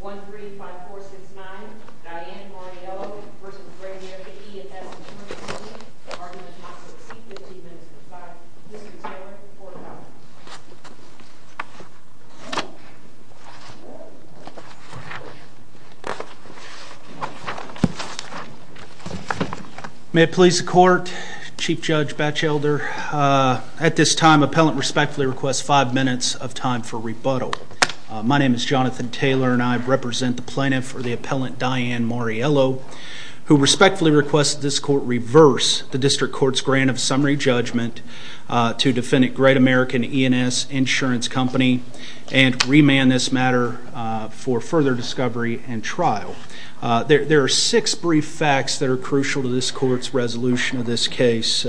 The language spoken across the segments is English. Court. May it please the court, Chief Judge Batchelder. At this time, my appellant respectfully requests five minutes of time for rebuttal. My name is Jonathan Taylor and I represent the plaintiff for the appellant Diane Mariello, who respectfully requests this court reverse the district court's grant of summary judgment to defendant Great American E and S Insurance Company and remand this matter for further discovery and trial. There are six brief facts that are crucial to this court's resolution of this case.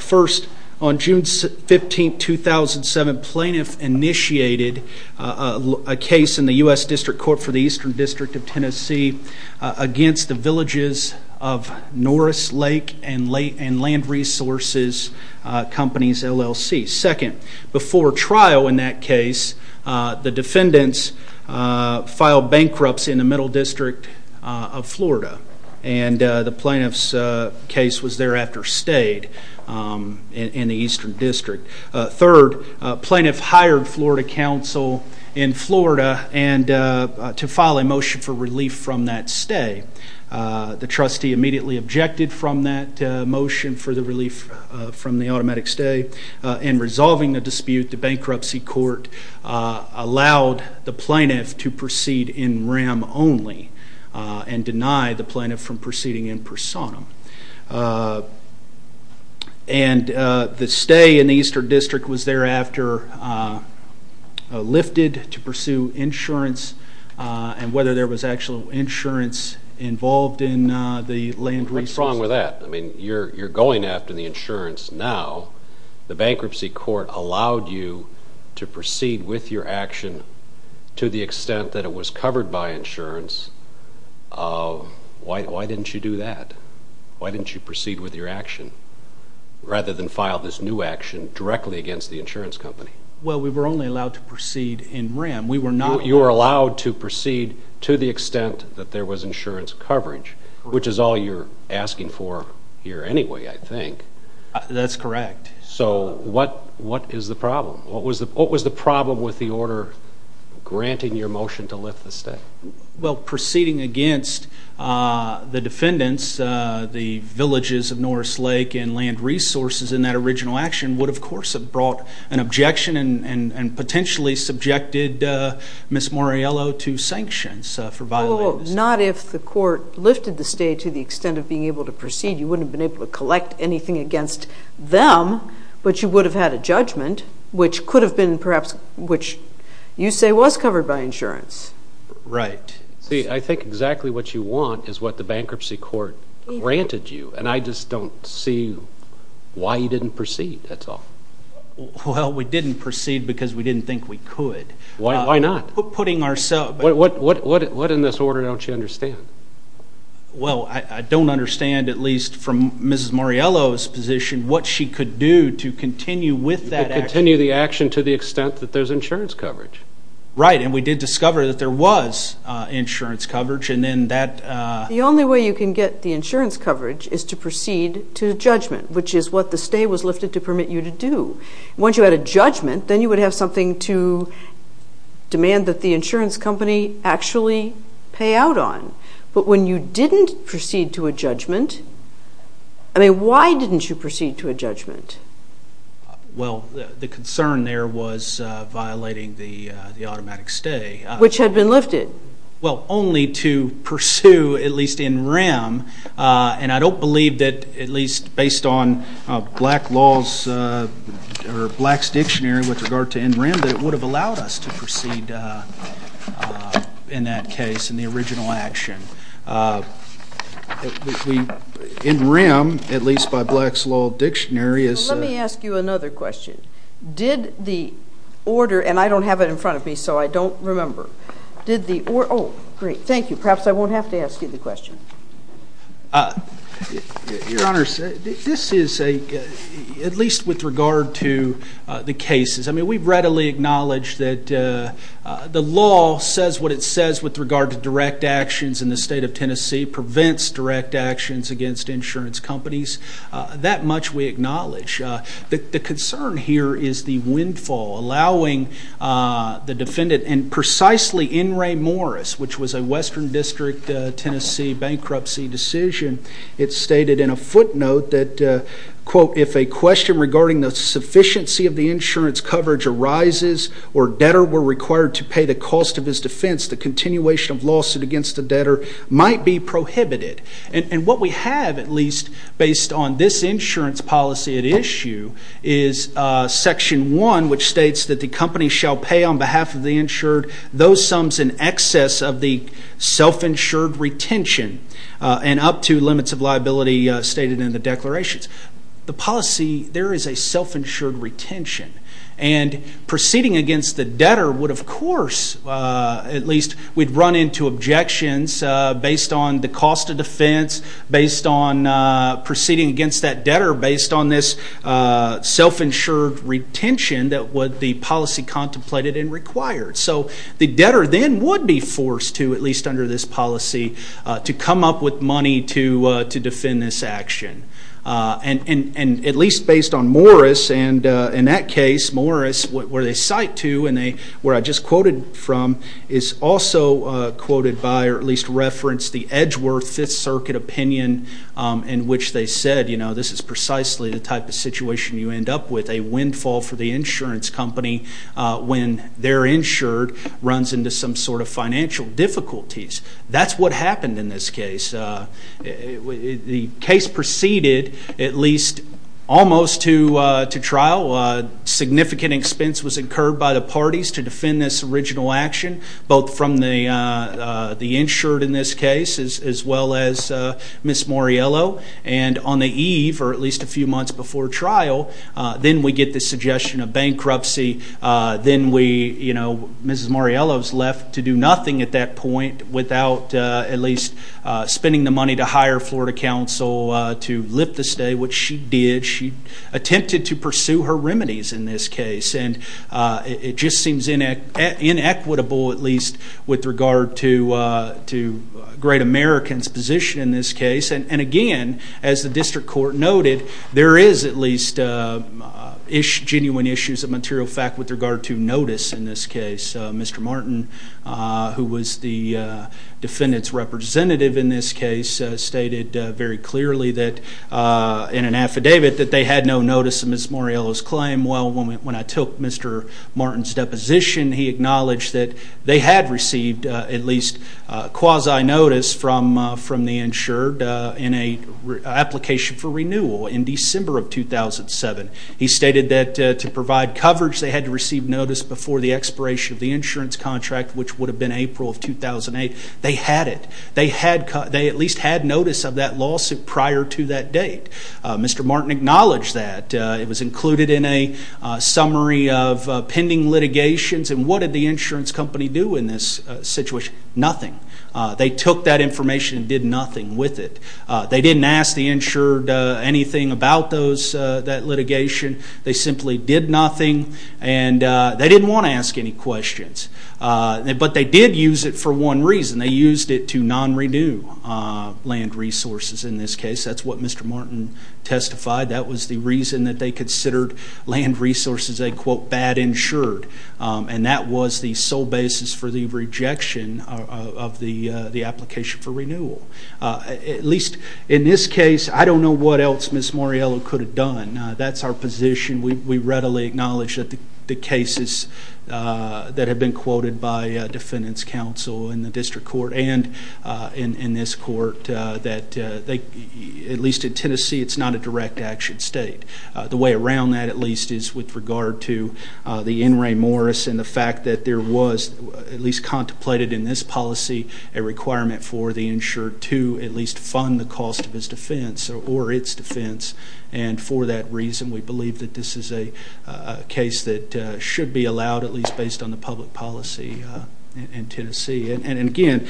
First, on June 15, 2007, plaintiff initiated a case in the U.S. District Court for the Eastern District of Tennessee against the Villages of Norris Lake and Land Resources Companies, LLC. Second, before trial in that case, the defendants filed bankruptcy in the Middle District of Florida, and the plaintiff's case was thereafter stayed in the Eastern District. Third, plaintiff hired Florida Council in Florida to file a motion for relief from that stay. The trustee immediately objected from that motion for the relief from the automatic stay. In resolving the dispute, the bankruptcy court allowed the plaintiff to proceed in program only and denied the plaintiff from proceeding in personam. And the stay in the Eastern District was thereafter lifted to pursue insurance and whether there was actual insurance involved in the land resources. What's wrong with that? I mean, you're going after the insurance now. The bankruptcy court allowed you to proceed with your action to the extent that it was covered by insurance. Why didn't you do that? Why didn't you proceed with your action rather than file this new action directly against the insurance company? Well, we were only allowed to proceed in RAM. You were allowed to proceed to the extent that there was insurance coverage, which is all you're asking for here anyway, I think. That's correct. So what is the problem? What was the problem with the order granting your motion to lift the stay? Well, proceeding against the defendants, the villages of Norris Lake and land resources in that original action would, of course, have brought an objection and potentially subjected Ms. Moriello to sanctions for violating the stay. Oh, not if the court lifted the stay to the extent that it was covered by insurance. Right. See, I think exactly what you want is what the bankruptcy court granted you, and I just don't see why you didn't proceed. That's all. Well, we didn't proceed because we didn't think we could. Why not? Putting ourselves... What in this order don't you understand? Well, I don't understand, at least from Ms. Moriello's position, what she could do to continue with that action. You could continue the action to the extent that there's insurance coverage. Right. And we did discover that there was insurance coverage, and then that... The only way you can get the insurance coverage is to proceed to judgment, which is what the stay was lifted to permit you to do. Once you had a judgment, then you would have something to demand that the insurance company actually pay out on. But when you didn't proceed to a judgment... I mean, why didn't you proceed to a judgment? Well, the concern there was violating the automatic stay. Which had been lifted. Well, only to pursue, at least in rem, and I don't believe that, at least based on black laws or black's dictionary with regard to in rem, that it would have allowed us to proceed in that case, in the original action. In rem, at least by black's law dictionary, is... Let me ask you another question. Did the order... And I don't have it in front of me, so I don't remember. Did the order... Oh, great. Thank you. Perhaps I won't have to ask you the question. Your Honor, this is a... At least with regard to the cases. I mean, we readily acknowledge that the law says what it says with regard to direct actions in the state of Tennessee, prevents direct actions against insurance companies. That much we acknowledge. The concern here is the windfall, allowing the defendant, and precisely N. Ray Morris, which was a western district, Tennessee bankruptcy decision. It's stated in a footnote that, quote, if a question regarding the sufficiency of the insurance coverage arises, or debtor were required to pay the cost of his defense, the continuation of lawsuit against the debtor might be prohibited. And what we have, at least based on this insurance policy at issue, is section one, which states that the company shall pay on behalf of the insured those sums in excess of the self-insured retention and up to limits of liability stated in the declarations. The policy, there is a self-insured retention. And proceeding against the debtor would, of course, at least we'd run into objections based on the cost of defense, based on proceeding against that debtor, based on this self-insured retention that the policy contemplated and required. So the debtor then would be forced to, at least under this policy, to come up with money to defend this action. And at least based on Morris, and in that case, Morris, where they cite to, and where I just quoted from, is also quoted by, or at least referenced, the Edgeworth Fifth Circuit opinion in which they said, you know, this is precisely the type of situation you end up with, a windfall for the insurance company when their insured runs into some sort of financial difficulties. That's what happened in this case. The case proceeded at least almost to trial. Significant expense was incurred by the parties to defend this original action, both from the insured in this case, as well as Ms. Morriello. And on the eve, or at least a few months before trial, then we get this suggestion of bankruptcy. Then we, you know, Mrs. Morriello's left to do nothing at that point without at least spending the money to hire Florida Council to lift the stay, which she did. She attempted to pursue her case, at least with regard to Great American's position in this case. And again, as the District Court noted, there is at least genuine issues of material fact with regard to notice in this case. Mr. Martin, who was the defendant's representative in this case, stated very clearly that in an affidavit that they had no notice of Ms. Morriello's claim. Well, when I took Mr. Martin's deposition, he acknowledged that they had received at least quasi-notice from the insured in an application for renewal in December of 2007. He stated that to provide coverage, they had to receive notice before the expiration of the insurance contract, which would have been April of 2008. They had it. They at least had notice of that lawsuit prior to that date. Mr. Martin acknowledged that. It was included in a summary of pending litigations. And what did the insurance company do in this situation? Nothing. They took that information and did nothing with it. They didn't ask the insured anything about those, that litigation. They simply did nothing. And they didn't want to ask any questions. But they did use it for one reason. They used it to non-renew land resources in this case. That's what Mr. Martin testified. That was the reason that they considered land resources a, quote, bad insured. And that was the sole basis for the rejection of the application for renewal. At least in this case, I don't know what else Ms. Morriello could have done. That's our position. We readily acknowledge that the cases that have been quoted by defendants counsel in the district court and in this court, that at least in Tennessee, it's not a direct action state. The way around that at least is with regard to the N. Ray Morris and the fact that there was, at least contemplated in this policy, a requirement for the insured to at least fund the cost of his defense or its defense. And for that reason, we believe that this is a case that should be allowed, at least based on the public policy in Tennessee. And again,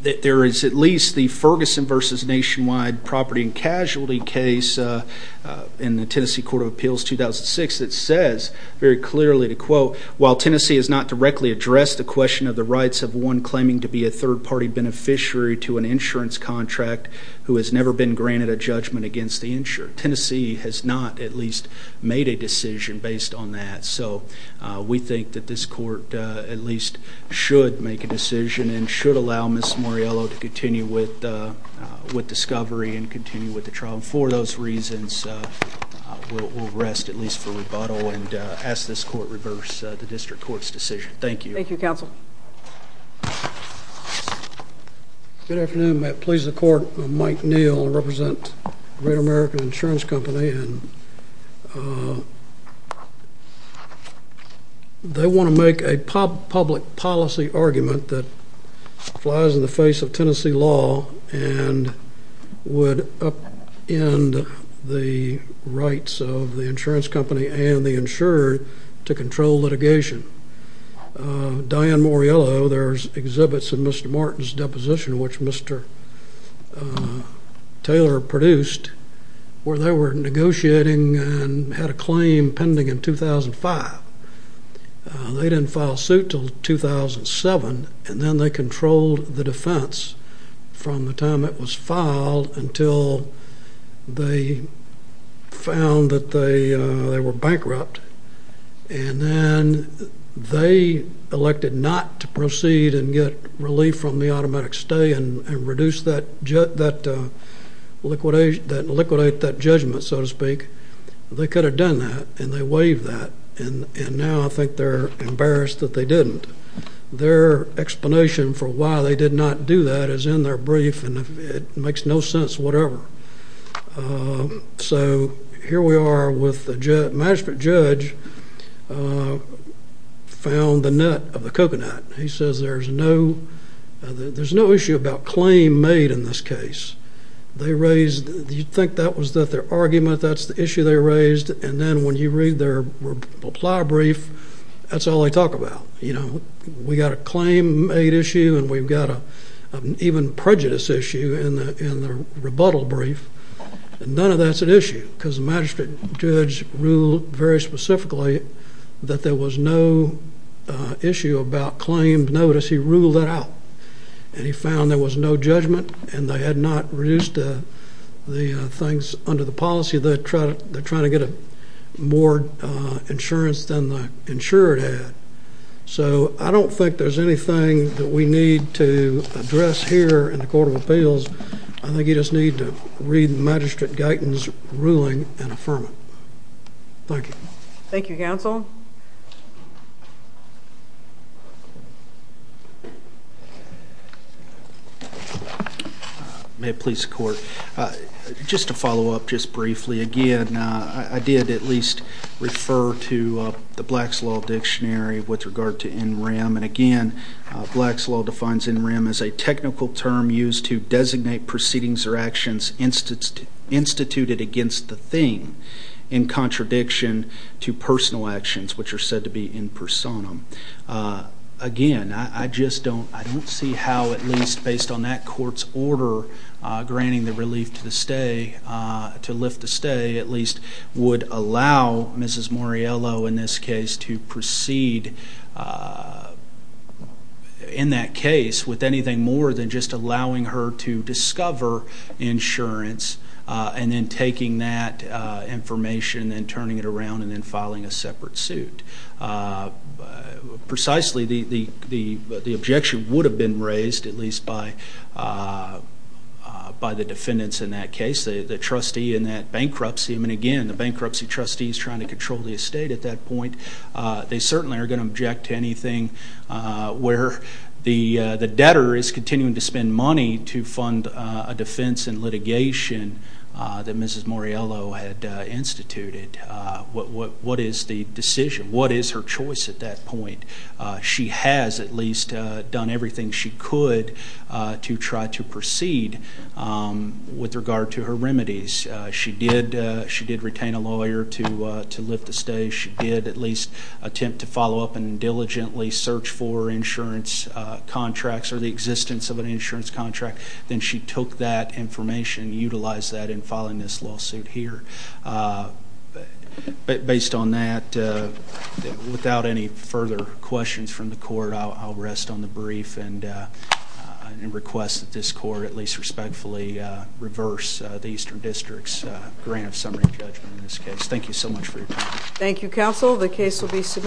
there is at least the Ferguson v. Nationwide property and casualty case in the Tennessee Court of Appeals 2006 that says very clearly, to quote, while Tennessee has not directly addressed the question of the rights of one claiming to be a third-party beneficiary to an insurance contract who has never been granted a judgment against the insured, Tennessee has not at least made a decision based on that. So we think that this court at least should make a decision and should allow Ms. Morriello to continue with discovery and continue with the trial. And for those reasons, we'll rest at least for the time being. Thank you. Thank you, Counsel. Good afternoon. May it please the Court, I'm Mike Neal. I represent Great American Insurance Company. And they want to make a public policy argument that flies in the face of Tennessee law and would upend the rights of the insurance company and the insured to control litigation. Diane Morriello, there's exhibits in Mr. Martin's deposition, which Mr. Taylor produced, where they were negotiating and had a claim pending in 2005. They didn't file suit until 2007, and then they controlled the defense from the time it was filed until they found that they were bankrupt. And then they elected not to proceed and get relief from the automatic stay and reduce that, liquidate that judgment, so to speak. They could have done that, and they waived that. And now I think they're embarrassed that they didn't. Their explanation for why they did not do that is in their brief, and it makes no sense whatever. So here we are with the magistrate judge, found the nut of the coconut. He says there's no issue about claim made in this case. They raised, you'd think that was their argument, that's the issue they raised, and then when you read their reply brief, that's all they talk about. We got a claim made issue, and we've got an even prejudice issue in the rebuttal brief, and none of that's an issue, because the magistrate judge ruled very specifically that there was no issue about claimed notice. He ruled that out, and he found there was no judgment, and they had not reduced the things under the policy. They're trying to get more insurance than the insured had. So I don't think there's anything that we need to address here in the magistrate guidance ruling and affirming. Thank you. Thank you, counsel. May it please the court. Just to follow up just briefly, again, I did at least refer to the Black's Law Dictionary with regard to NREM, and again, Black's Law defines NREM as a technical term used to designate proceedings or actions instituted against the thing in contradiction to personal actions, which are said to be in personam. Again, I just don't see how at least based on that court's order granting the relief to the stay, to lift the stay at least, would allow Mrs. Moriello in this case to proceed in that case with anything more than just allowing her to discover insurance, and then taking that information and turning it around and then filing a separate suit. Precisely, the objection would have been raised at least by the defendants in that case, the trustee in that bankruptcy. I mean, again, the bankruptcy trustee is trying to control the estate at that point. They are continuing to spend money to fund a defense and litigation that Mrs. Moriello had instituted. What is the decision? What is her choice at that point? She has at least done everything she could to try to proceed with regard to her remedies. She did retain a lawyer to lift the stay. She did at least attempt to follow up and diligently search for insurance contracts or the existence of an insurance contract. Then she took that information, utilized that in filing this lawsuit here. Based on that, without any further questions from the court, I'll rest on the brief and request that this court at least respectfully reverse the Eastern District's grant of summary judgment in this case. Thank you so much for your time. Thank you, counsel. The case will be submitted.